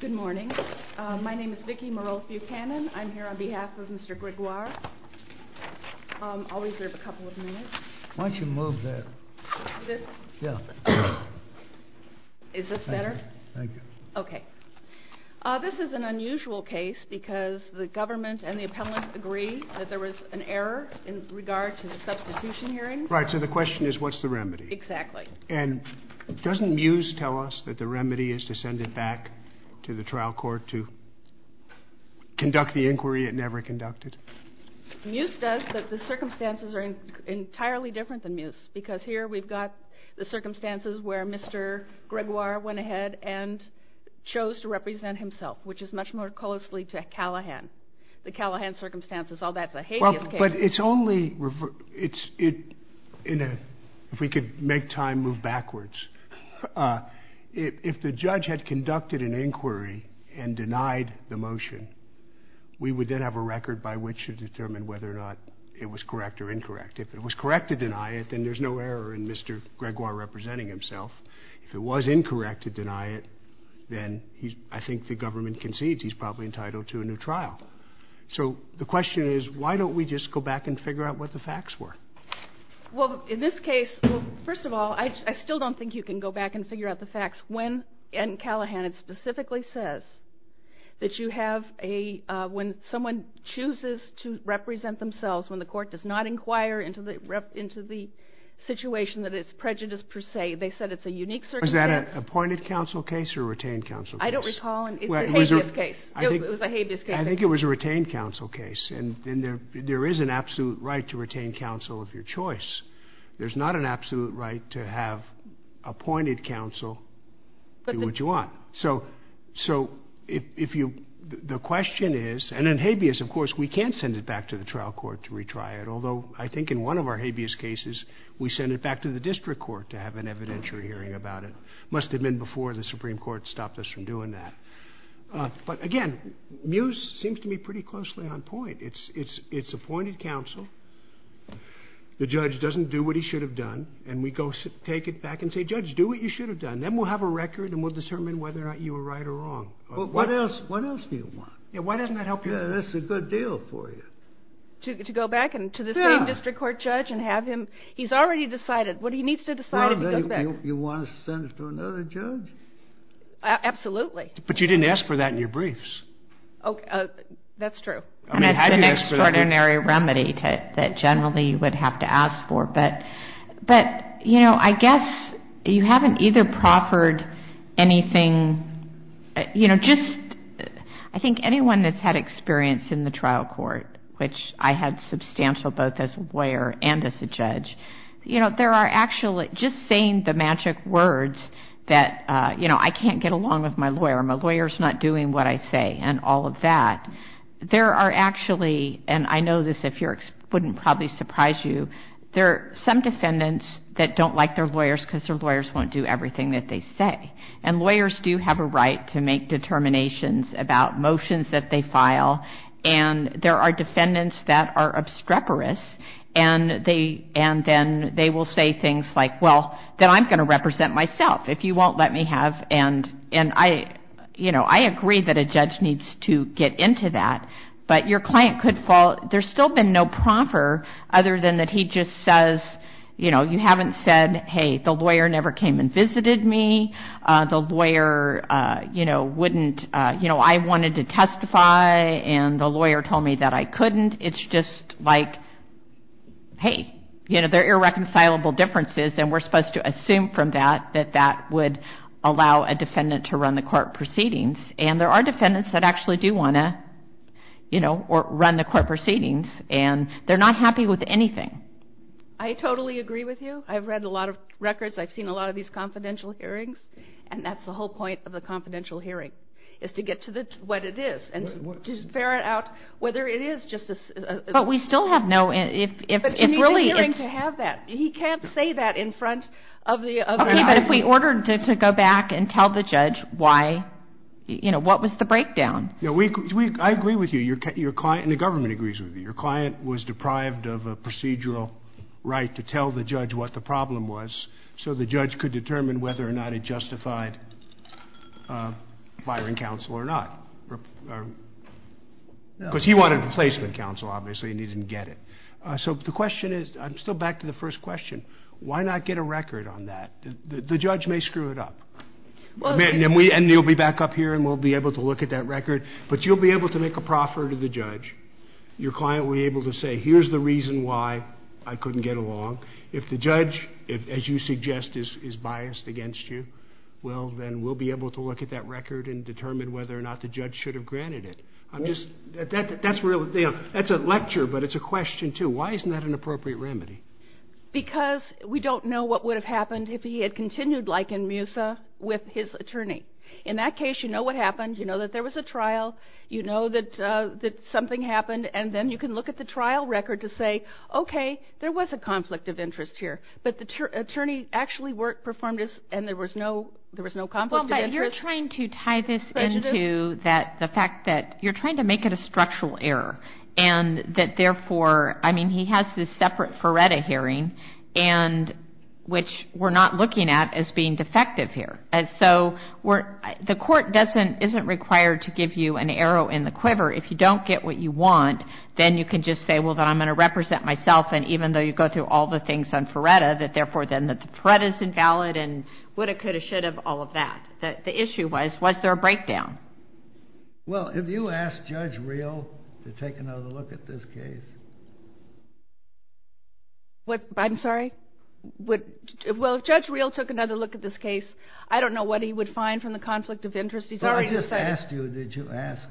Good morning. My name is Vicki Morolf-Buchanan. I'm here on behalf of Mr. Gregoire. I'll reserve a couple of minutes. Why don't you move there? This? Yeah. Is this better? Thank you. Okay. This is an unusual case because the government and the appellant agree that there was an error in regard to the substitution hearing. Right. So the question is, what's the remedy? Exactly. And doesn't Muse tell us that the remedy is to send it back to the trial court to conduct the inquiry it never conducted? Muse does, but the circumstances are entirely different than Muse because here we've got the circumstances where Mr. Gregoire went ahead and chose to represent himself, which is much more closely to Callahan. The Callahan circumstances, all that's a hideous case. But it's only if we could make time move backwards. If the judge had conducted an inquiry and denied the motion, we would then have a record by which to determine whether or not it was correct or incorrect. If it was correct to deny it, then there's no error in Mr. Gregoire representing himself. If it was incorrect to deny it, then I think the government concedes he's probably entitled to a new trial. So the question is, why don't we just go back and figure out what the facts were? Well, in this case, first of all, I still don't think you can go back and figure out the facts when Callahan specifically says that you have a, when someone chooses to represent themselves, when the court does not inquire into the situation that it's prejudice per se, they said it's a unique circumstance. Was that an appointed counsel case or a retained counsel case? I don't recall. It was a habeas case. I think it was a retained counsel case. And there is an absolute right to retain counsel of your choice. There's not an absolute right to have appointed counsel do what you want. So if you, the question is, and in habeas, of course, we can send it back to the trial court to retry it. Although I think in one of our habeas cases, we send it back to the district court to have an evidentiary hearing about it. Must have been before the Supreme Court stopped us from doing that. But, again, Mews seems to be pretty closely on point. It's appointed counsel. The judge doesn't do what he should have done. And we go take it back and say, judge, do what you should have done. Then we'll have a record and we'll determine whether or not you were right or wrong. But what else do you want? Yeah, why doesn't that help you? Yeah, that's a good deal for you. To go back and to the same district court judge and have him, he's already decided what he needs to decide if he goes back. You want to send it to another judge? Absolutely. But you didn't ask for that in your briefs. That's true. That's an extraordinary remedy that generally you would have to ask for. But, you know, I guess you haven't either proffered anything. You know, just I think anyone that's had experience in the trial court, which I had substantial both as a lawyer and as a judge, you know, there are actually just saying the magic words that, you know, I can't get along with my lawyer. My lawyer's not doing what I say and all of that. There are actually, and I know this wouldn't probably surprise you, there are some defendants that don't like their lawyers because their lawyers won't do everything that they say. And lawyers do have a right to make determinations about motions that they file. And there are defendants that are obstreperous, and then they will say things like, well, then I'm going to represent myself if you won't let me have, and, you know, I agree that a judge needs to get into that. But your client could fall, there's still been no proffer other than that he just says, you know, you haven't said, hey, the lawyer never came and visited me. The lawyer, you know, wouldn't, you know, I wanted to testify, and the lawyer told me that I couldn't. It's just like, hey, you know, they're irreconcilable differences, and we're supposed to assume from that that that would allow a defendant to run the court proceedings. And there are defendants that actually do want to, you know, run the court proceedings, and they're not happy with anything. I totally agree with you. I've read a lot of records. I've seen a lot of these confidential hearings, and that's the whole point of a confidential hearing, is to get to what it is and to ferret out whether it is just a. But we still have no. But he needs a hearing to have that. He can't say that in front of the other. Okay, but if we ordered to go back and tell the judge why, you know, what was the breakdown? I agree with you. Your client, and the government agrees with you. Your client was deprived of a procedural right to tell the judge what the problem was so the judge could determine whether or not it justified firing counsel or not. Because he wanted replacement counsel, obviously, and he didn't get it. So the question is, I'm still back to the first question. Why not get a record on that? The judge may screw it up. And you'll be back up here, and we'll be able to look at that record. But you'll be able to make a proffer to the judge. Your client will be able to say, here's the reason why I couldn't get along. If the judge, as you suggest, is biased against you, well, then we'll be able to look at that record and determine whether or not the judge should have granted it. That's a lecture, but it's a question, too. Why isn't that an appropriate remedy? Because we don't know what would have happened if he had continued like in Musa with his attorney. In that case, you know what happened. You know that there was a trial. You know that something happened. And then you can look at the trial record to say, okay, there was a conflict of interest here. But the attorney actually worked, performed, and there was no conflict of interest. Well, but you're trying to tie this into the fact that you're trying to make it a structural error. And that, therefore, I mean, he has this separate Ferretta hearing, which we're not looking at as being defective here. The court isn't required to give you an arrow in the quiver. If you don't get what you want, then you can just say, well, then I'm going to represent myself. And even though you go through all the things on Ferretta, that, therefore, then the Ferretta is invalid and woulda, coulda, shoulda, all of that. The issue was, was there a breakdown? Well, if you ask Judge Reel to take another look at this case. I'm sorry? Well, if Judge Reel took another look at this case, I don't know what he would find from the conflict of interest. He's already decided. But I just asked you, did you ask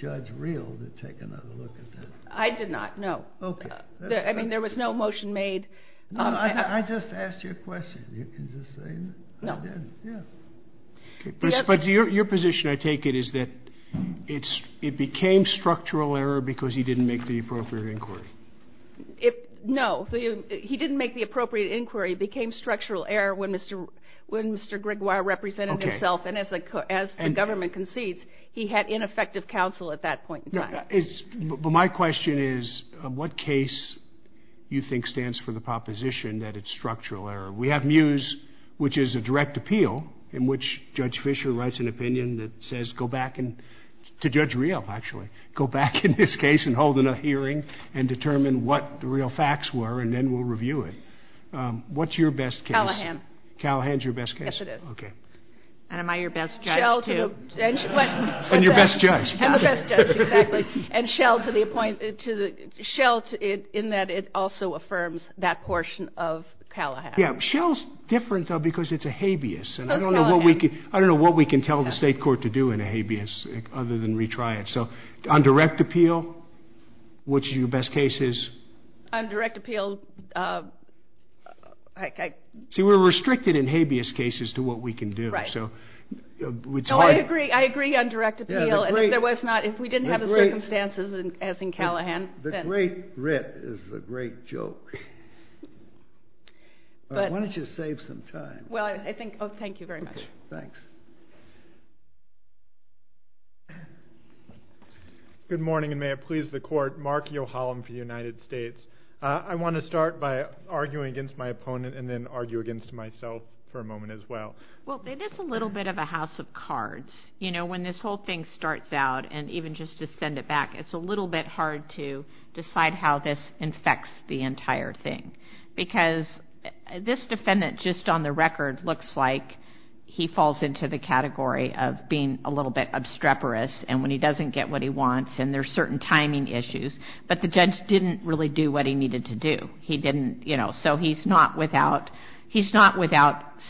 Judge Reel to take another look at this? I did not, no. Okay. I mean, there was no motion made. No, I just asked you a question. You can just say that. No. I did, yeah. But your position, I take it, is that it became structural error because he didn't make the appropriate inquiry. No. He didn't make the appropriate inquiry. It became structural error when Mr. Grigoire represented himself. And as the government concedes, he had ineffective counsel at that point in time. But my question is, what case do you think stands for the proposition that it's structural error? We have MUSE, which is a direct appeal, in which Judge Fischer writes an opinion that says, go back and, to Judge Reel, actually, go back in this case and hold another hearing and determine what the real facts were, and then we'll review it. What's your best case? Callahan. Callahan's your best case? Yes, it is. Okay. And am I your best judge, too? And your best judge. And the best judge, exactly. And Shell, in that it also affirms that portion of Callahan. Yeah. Shell's different, though, because it's a habeas, and I don't know what we can tell the state court to do in a habeas other than retry it. So on direct appeal, what's your best case? On direct appeal. See, we're restricted in habeas cases to what we can do. Right. So it's hard. No, I agree. I agree on direct appeal. And if we didn't have the circumstances as in Callahan, then. The great writ is the great joke. Why don't you save some time? Well, I think. Oh, thank you very much. Thanks. Good morning, and may it please the Court. Mark Yohalam for the United States. I want to start by arguing against my opponent and then argue against myself for a moment as well. Well, it is a little bit of a house of cards. You know, when this whole thing starts out, and even just to send it back, it's a little bit hard to decide how this infects the entire thing because this defendant, just on the record, looks like he falls into the category of being a little bit obstreperous, and when he doesn't get what he wants, and there's certain timing issues, but the judge didn't really do what he needed to do. He didn't, you know, so he's not without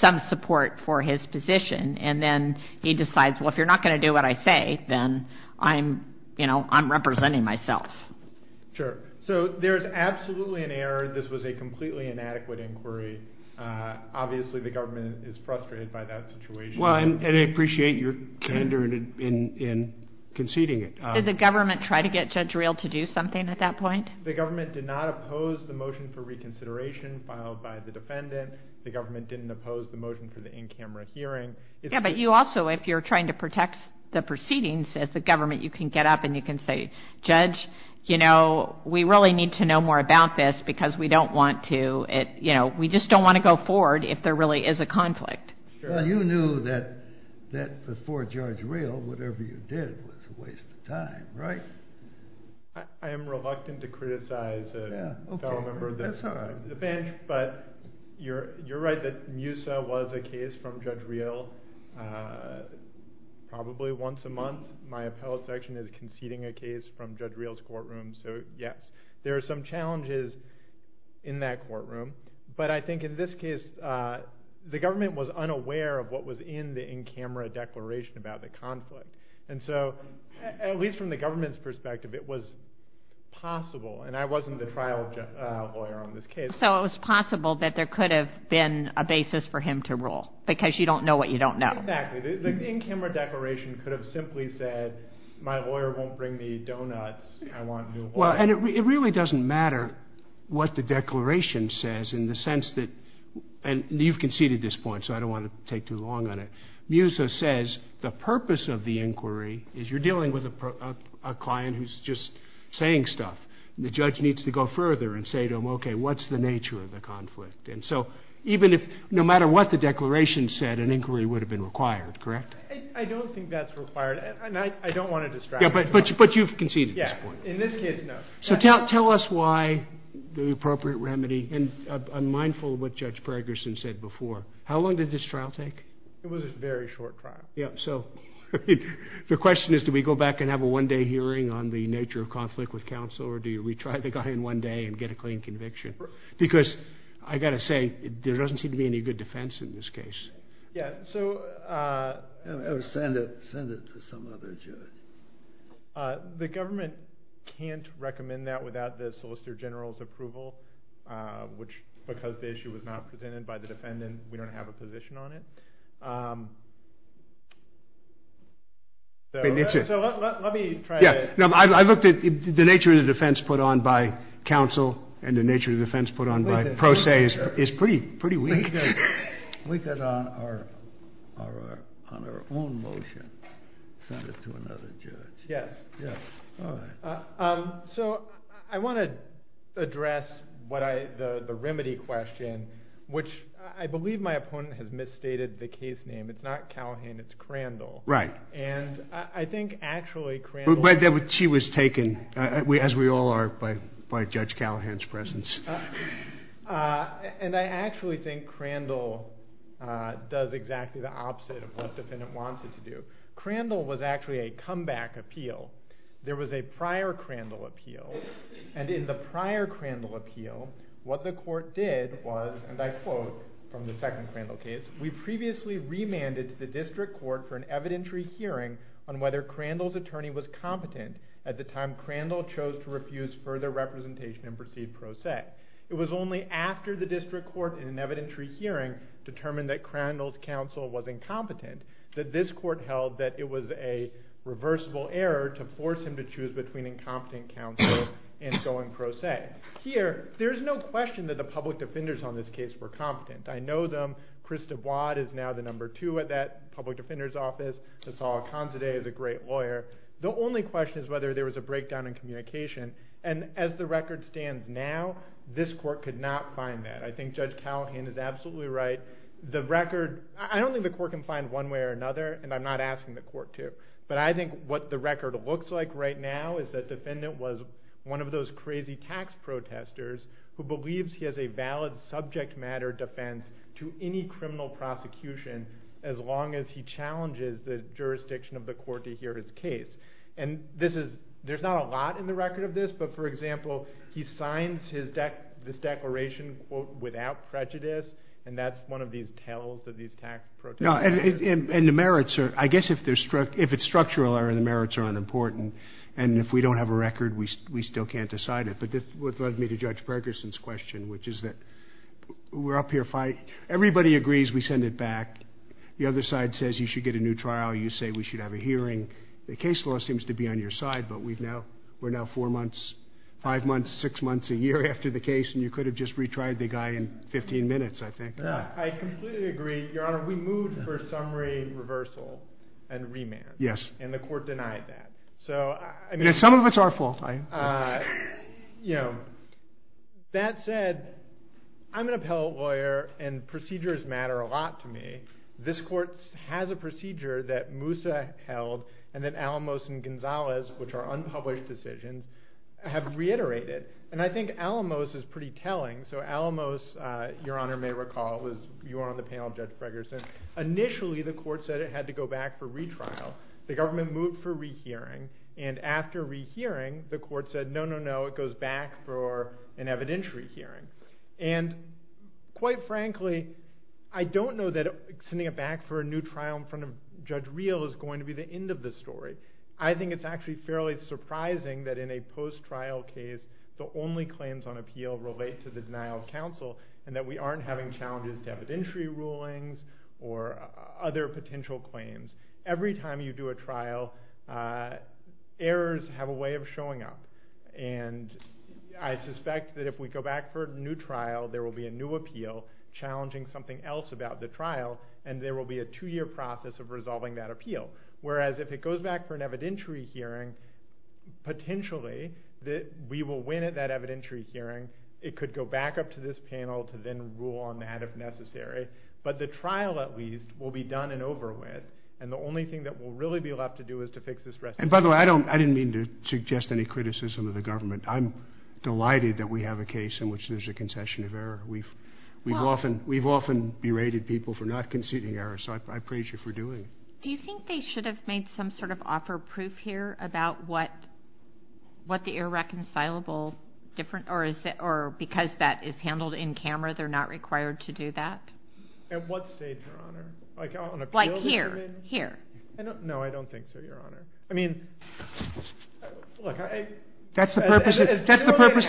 some support for his position, and then he decides, well, if you're not going to do what I say, then I'm representing myself. Sure. So there's absolutely an error. This was a completely inadequate inquiry. Obviously, the government is frustrated by that situation. Well, and I appreciate your candor in conceding it. Did the government try to get Judge Rehl to do something at that point? The government did not oppose the motion for reconsideration filed by the defendant. The government didn't oppose the motion for the in-camera hearing. Yeah, but you also, if you're trying to protect the proceedings, as the government, you can get up and you can say, Judge, you know, we really need to know more about this because we don't want to, you know, we just don't want to go forward if there really is a conflict. Well, you knew that before Judge Rehl, whatever you did was a waste of time, right? I am reluctant to criticize a fellow member of the bench, but you're right that Musa was a case from Judge Rehl probably once a month. My appellate section is conceding a case from Judge Rehl's courtroom, so yes. There are some challenges in that courtroom, but I think in this case, the government was unaware of what was in the in-camera declaration about the conflict, and so at least from the government's perspective, it was possible, and I wasn't the trial lawyer on this case. So it was possible that there could have been a basis for him to rule because you don't know what you don't know. Exactly. The in-camera declaration could have simply said, my lawyer won't bring me donuts, I want new ones. Well, and it really doesn't matter what the declaration says in the sense that you've conceded this point, so I don't want to take too long on it. Musa says the purpose of the inquiry is you're dealing with a client who's just saying stuff. The judge needs to go further and say to him, okay, what's the nature of the conflict? And so even if no matter what the declaration said, an inquiry would have been required, correct? I don't think that's required, and I don't want to distract you. Yeah, but you've conceded this point. Yeah, in this case, no. So tell us why the appropriate remedy, and I'm mindful of what Judge Braggerson said before. How long did this trial take? It was a very short trial. Yeah, so the question is, do we go back and have a one-day hearing on the nature of conflict with counsel, or do you retry the guy in one day and get a clean conviction? Because I've got to say, there doesn't seem to be any good defense in this case. Yeah, so... Send it to some other judge. The government can't recommend that without the Solicitor General's approval, which, because the issue was not presented by the defendant, we don't have a position on it. So let me try to... Yeah, I looked at the nature of the defense put on by counsel and the nature of the defense put on by pro se is pretty weak. We could, on our own motion, send it to another judge. Yes. All right. So I want to address the remedy question, which I believe my opponent has misstated the case name. It's not Callahan, it's Crandall. Right. And I think actually Crandall... But she was taken, as we all are, by Judge Callahan's presence. And I actually think Crandall does exactly the opposite of what the defendant wants it to do. Crandall was actually a comeback appeal. There was a prior Crandall appeal, and in the prior Crandall appeal, what the court did was, and I quote from the second Crandall case, we previously remanded to the district court for an evidentiary hearing on whether Crandall's attorney was competent at the time Crandall chose to refuse further representation and proceed pro se. It was only after the district court, in an evidentiary hearing, determined that Crandall's counsel was incompetent that this court held that it was a reversible error to force him to choose between incompetent counsel and going pro se. Here, there's no question that the public defenders on this case were competent. I know them. Chris Dubois is now the number two at that public defender's office. Nassau Akonzadeh is a great lawyer. The only question is whether there was a breakdown in communication, and as the record stands now, this court could not find that. I think Judge Callahan is absolutely right. The record, I don't think the court can find one way or another, and I'm not asking the court to, but I think what the record looks like right now is that the defendant was one of those crazy tax protesters who believes he has a valid subject matter defense to any criminal prosecution as long as he challenges the jurisdiction of the court to hear his case. And there's not a lot in the record of this, but, for example, he signs this declaration, quote, without prejudice, and that's one of these tales of these tax protesters. And the merits are, I guess if it's structural error, the merits are unimportant, and if we don't have a record, we still can't decide it. But this led me to Judge Perkerson's question, which is that we're up here fighting. Everybody agrees we send it back. The other side says you should get a new trial. You say we should have a hearing. The case law seems to be on your side, but we're now four months, five months, six months a year after the case, and you could have just retried the guy in 15 minutes, I think. I completely agree. Your Honor, we moved for summary reversal and remand, and the court denied that. And some of it's our fault. That said, I'm an appellate lawyer, and procedures matter a lot to me. This court has a procedure that Moussa held and that Alamos and Gonzalez, which are unpublished decisions, have reiterated. And I think Alamos is pretty telling. So Alamos, Your Honor may recall, you were on the panel, Judge Perkerson, initially the court said it had to go back for retrial. The government moved for rehearing, and after rehearing, the court said, no, no, no, it goes back for an evidentiary hearing. And quite frankly, I don't know that sending it back for a new trial in front of Judge Reel is going to be the end of the story. I think it's actually fairly surprising that in a post-trial case, the only claims on appeal relate to the denial of counsel and that we aren't having challenges to evidentiary rulings or other potential claims. Every time you do a trial, errors have a way of showing up. And I suspect that if we go back for a new trial, there will be a new appeal challenging something else about the trial, and there will be a two-year process of resolving that appeal. Whereas if it goes back for an evidentiary hearing, potentially we will win at that evidentiary hearing. It could go back up to this panel to then rule on that if necessary. But the trial, at least, will be done and over with, and the only thing that will really be left to do is to fix this recidivism. And by the way, I didn't mean to suggest any criticism of the government. I'm delighted that we have a case in which there's a concession of error. We've often berated people for not conceding error, so I praise you for doing it. Do you think they should have made some sort of offer of proof here about what the irreconcilable difference, or because that is handled in camera, they're not required to do that? At what stage, Your Honor? Like here? No, I don't think so, Your Honor. I mean, look, I... That's the purpose of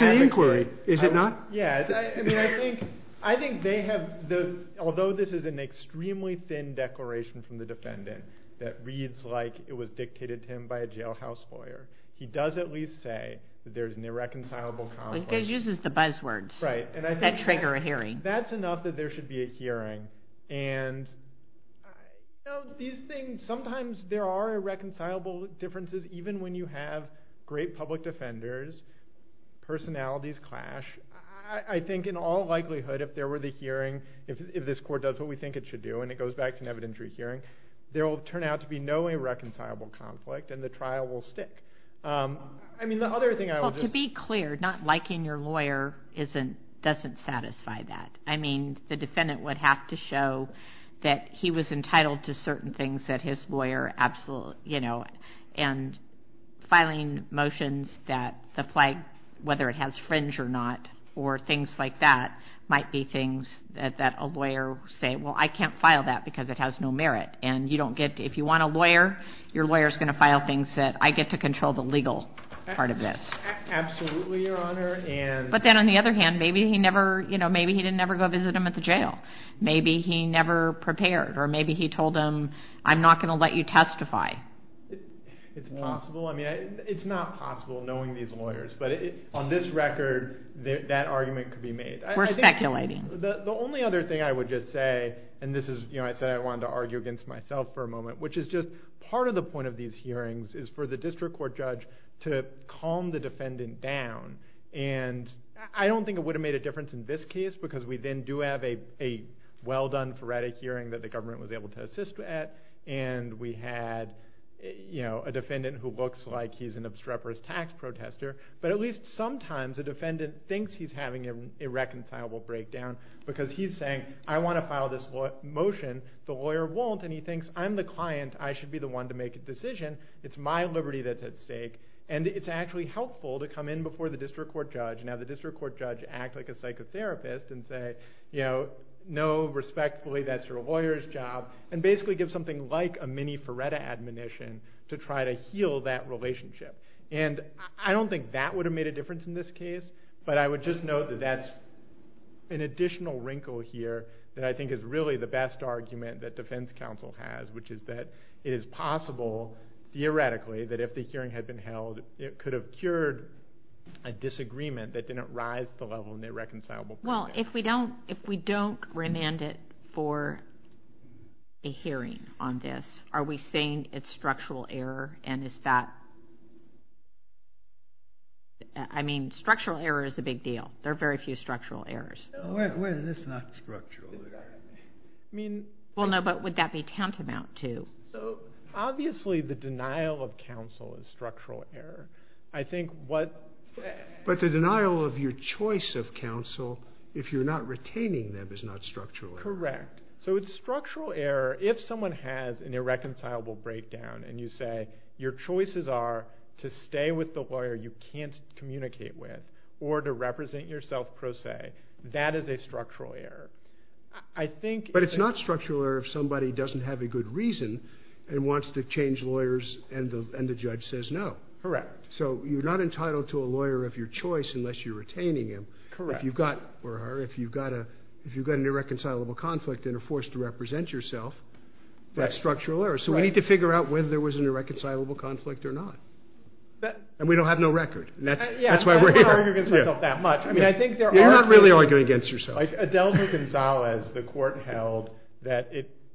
the inquiry, is it not? Yeah, I mean, I think they have the... Although this is an extremely thin declaration from the defendant that reads like it was dictated to him by a jailhouse lawyer, he does at least say that there's an irreconcilable conflict. He uses the buzzwords that trigger a hearing. That's enough that there should be a hearing. And these things, sometimes there are irreconcilable differences even when you have great public defenders, personalities clash. I think in all likelihood, if there were the hearing, if this Court does what we think it should do, and it goes back to an evidentiary hearing, there will turn out to be no irreconcilable conflict, and the trial will stick. I mean, the other thing I would just... Well, to be clear, not liking your lawyer doesn't satisfy that. I mean, the defendant would have to show that he was entitled to certain things that his lawyer absolutely... And filing motions that the flag, whether it has fringe or not, or things like that, might be things that a lawyer would say, well, I can't file that because it has no merit. And if you want a lawyer, your lawyer is going to file things that I get to control the legal part of this. Absolutely, Your Honor. But then on the other hand, maybe he didn't ever go visit him at the jail. Maybe he never prepared, or maybe he told him, I'm not going to let you testify. It's possible. I mean, it's not possible knowing these lawyers. But on this record, that argument could be made. We're speculating. The only other thing I would just say, and I said I wanted to argue against myself for a moment, which is just part of the point of these hearings is for the district court judge to calm the defendant down. And I don't think it would have made a difference in this case because we then do have a well-done, phoretic hearing that the government was able to assist with, and we had a defendant who looks like he's an obstreperous tax protester. But at least sometimes a defendant thinks he's having a reconcilable breakdown because he's saying, I want to file this motion. The lawyer won't, and he thinks, I'm the client. I should be the one to make a decision. It's my liberty that's at stake. And it's actually helpful to come in before the district court judge and have the district court judge act like a psychotherapist and say, you know, no, respectfully, that's your lawyer's job, and basically give something like a mini-phoretic admonition to try to heal that relationship. And I don't think that would have made a difference in this case, but I would just note that that's an additional wrinkle here that I think is really the best argument that defense counsel has, which is that it is possible, theoretically, that if the hearing had been held, it could have cured a disagreement that didn't rise to the level of a reconcilable breakdown. Well, if we don't remand it for a hearing on this, are we saying it's structural error? And is that – I mean, structural error is a big deal. There are very few structural errors. Well, it's not structural error. Well, no, but would that be tantamount to? So obviously the denial of counsel is structural error. I think what – But the denial of your choice of counsel, if you're not retaining them, is not structural error. Correct. So it's structural error if someone has an irreconcilable breakdown and you say your choices are to stay with the lawyer you can't communicate with or to represent yourself pro se. That is a structural error. But it's not structural error if somebody doesn't have a good reason and wants to change lawyers and the judge says no. Correct. So you're not entitled to a lawyer of your choice unless you're retaining him. Correct. If you've got an irreconcilable conflict and are forced to represent yourself, that's structural error. So we need to figure out whether there was an irreconcilable conflict or not. And we don't have no record. That's why we're here. Yeah, I don't argue against myself that much. I mean, I think there are – You're not really arguing against yourself. Like Adelza Gonzalez, the court held that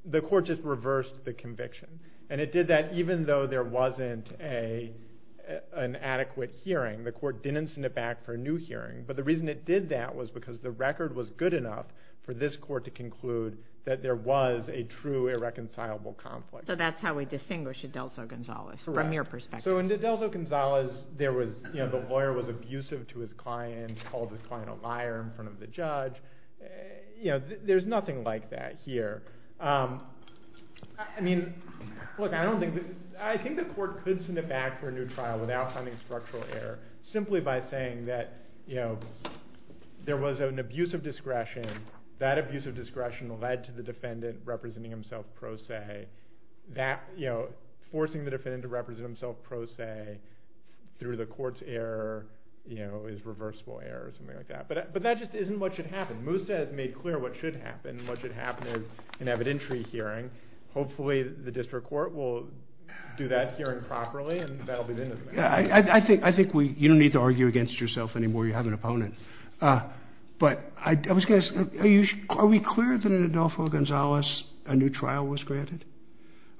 the court just reversed the conviction. And it did that even though there wasn't an adequate hearing. The court didn't send it back for a new hearing. But the reason it did that was because the record was good enough for this court to conclude that there was a true irreconcilable conflict. So that's how we distinguish Adelza Gonzalez from your perspective. So in Adelza Gonzalez, the lawyer was abusive to his client, called his client a liar in front of the judge. There's nothing like that here. I mean, look, I don't think – I think the court could send it back for a new trial without finding structural error simply by saying that there was an abuse of discretion. That abuse of discretion led to the defendant representing himself pro se. Forcing the defendant to represent himself pro se through the court's error is reversible error or something like that. But that just isn't what should happen. Moussa has made clear what should happen. What should happen is an evidentiary hearing. Hopefully the district court will do that hearing properly, and that will be the end of it. I think you don't need to argue against yourself anymore. You have an opponent. But I was going to ask, are we clear that in Adelza Gonzalez a new trial was granted?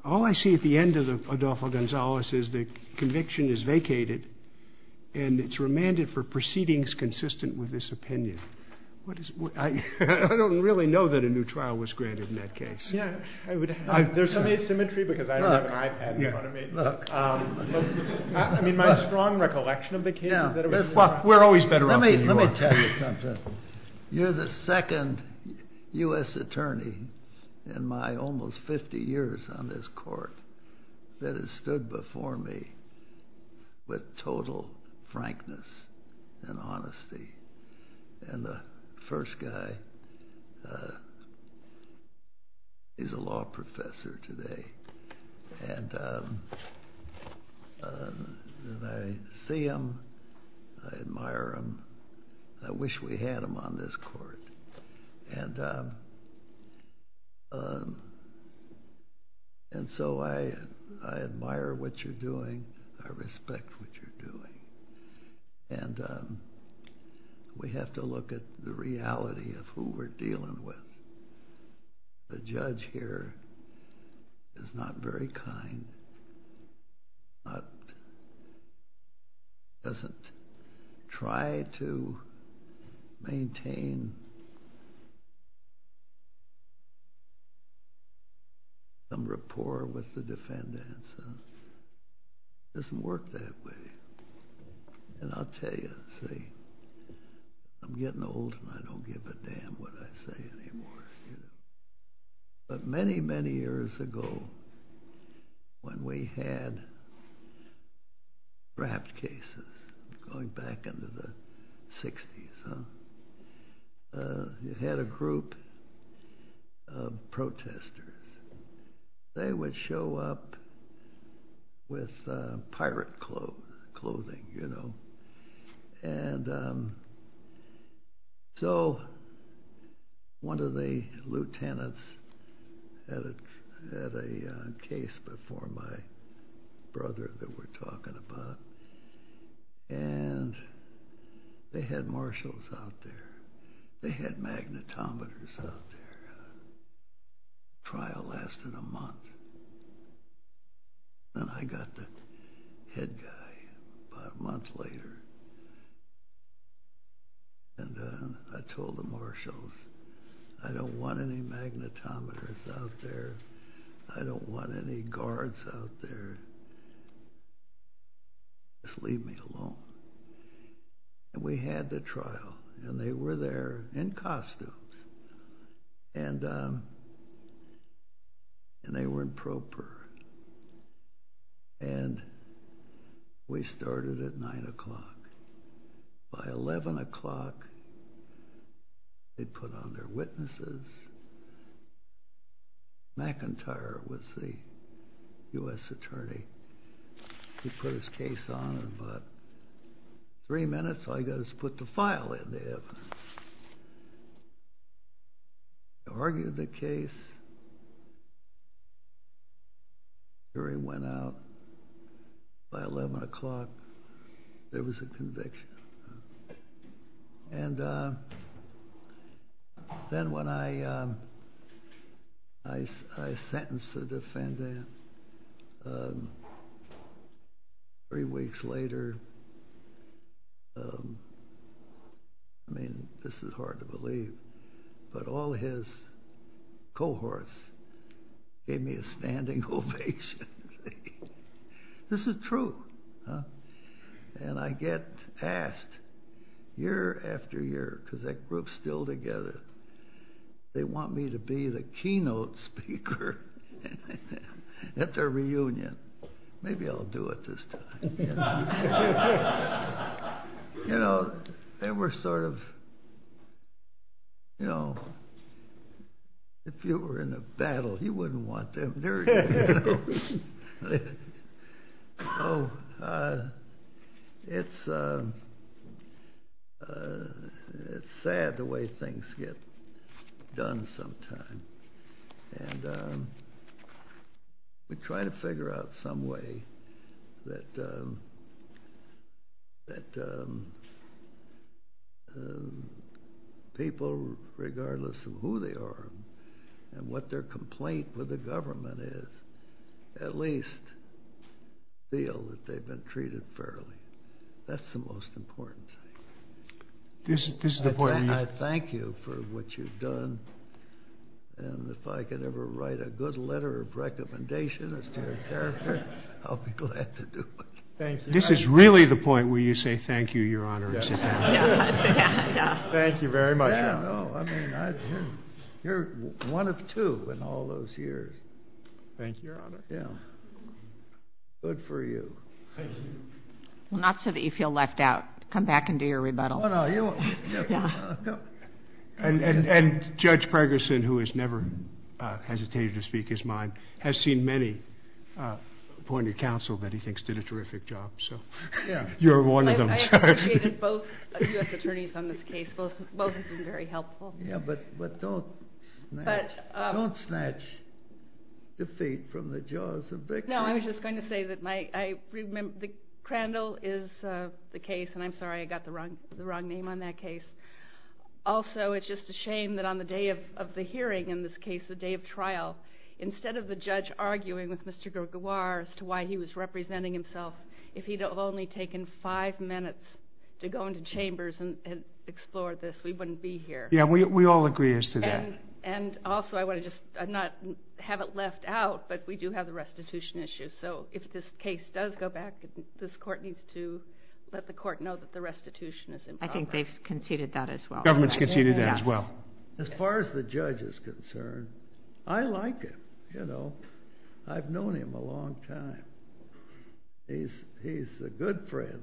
All I see at the end of Adelza Gonzalez is the conviction is vacated, and it's remanded for proceedings consistent with this opinion. I don't really know that a new trial was granted in that case. There's some asymmetry because I don't have an iPad in front of me. I mean, my strong recollection of the case is that it was – Well, we're always better off than you are. Let me tell you something. You're the second U.S. attorney in my almost 50 years on this court that has stood before me with total frankness and honesty. And the first guy is a law professor today. And I see him. I admire him. I wish we had him on this court. And so I admire what you're doing. I respect what you're doing. And we have to look at the reality of who we're dealing with. The judge here is not very kind, doesn't try to maintain some rapport with the defendants. It doesn't work that way. And I'll tell you, see, I'm getting old, and I don't give a damn what I say anymore. But many, many years ago, when we had draft cases, going back into the 60s, you had a group of protesters. They would show up with pirate clothing, you know. And so one of the lieutenants had a case before my brother that we're talking about. And they had marshals out there. They had magnetometers out there. The trial lasted a month. And I got the head guy about a month later. And I told the marshals, I don't want any magnetometers out there. I don't want any guards out there. Just leave me alone. And we had the trial, and they were there in costumes. And they were in proper. And we started at 9 o'clock. By 11 o'clock, they put on their witnesses. McIntyre was the U.S. attorney. He put his case on in about three minutes. All you got to do is put the file in there. They argued the case. The jury went out. By 11 o'clock, there was a conviction. And then when I sentenced the defendant, three weeks later, I mean, this is hard to believe, but all his cohorts gave me a standing ovation. This is true. And I get asked year after year, because that group's still together, they want me to be the keynote speaker. At their reunion. Maybe I'll do it this time. You know, they were sort of, you know, if you were in a battle, you wouldn't want them there. Oh, it's sad the way things get done sometimes. And we try to figure out some way that people, regardless of who they are and what their complaint with the government is, at least feel that they've been treated fairly. That's the most important thing. I thank you for what you've done. And if I could ever write a good letter of recommendation as to your character, I'll be glad to do it. This is really the point where you say thank you, Your Honor. Thank you very much. You're one of two in all those years. Thank you, Your Honor. Good for you. Well, not so that you feel left out. Come back and do your rebuttal. Oh, no, you won't. And Judge Pregerson, who has never hesitated to speak his mind, has seen many appointed counsel that he thinks did a terrific job. You're one of them. I appreciated both U.S. attorneys on this case. Both have been very helpful. Yeah, but don't snatch defeat from the jaws of victory. No, I was just going to say that I remember the Crandall is the case, and I'm sorry I got the wrong name on that case. Also, it's just a shame that on the day of the hearing in this case, the day of trial, instead of the judge arguing with Mr. Giroir as to why he was representing himself, if he'd have only taken five minutes to go into chambers and explore this, we wouldn't be here. Yeah, we all agree as to that. And also, I want to just not have it left out, but we do have the restitution issue. So if this case does go back, this court needs to let the court know that the restitution is in progress. I think they've conceded that as well. Government's conceded that as well. As far as the judge is concerned, I like him. I've known him a long time. He's a good friend.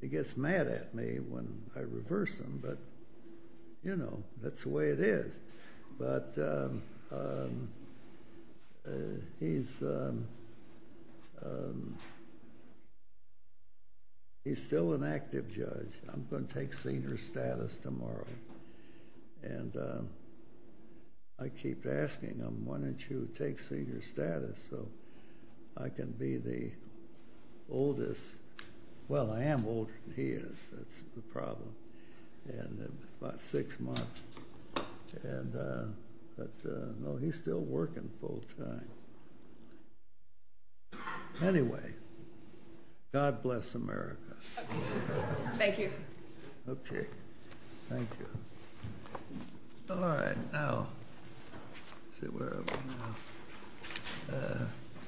He gets mad at me when I reverse him, but that's the way it is. But he's still an active judge. I'm going to take senior status tomorrow. And I keep asking him, why don't you take senior status so I can be the oldest. Well, I am older than he is. That's the problem. About six months. But no, he's still working full time. Anyway, God bless America. Thank you. Okay, thank you. All right, now, let's see, where are we now?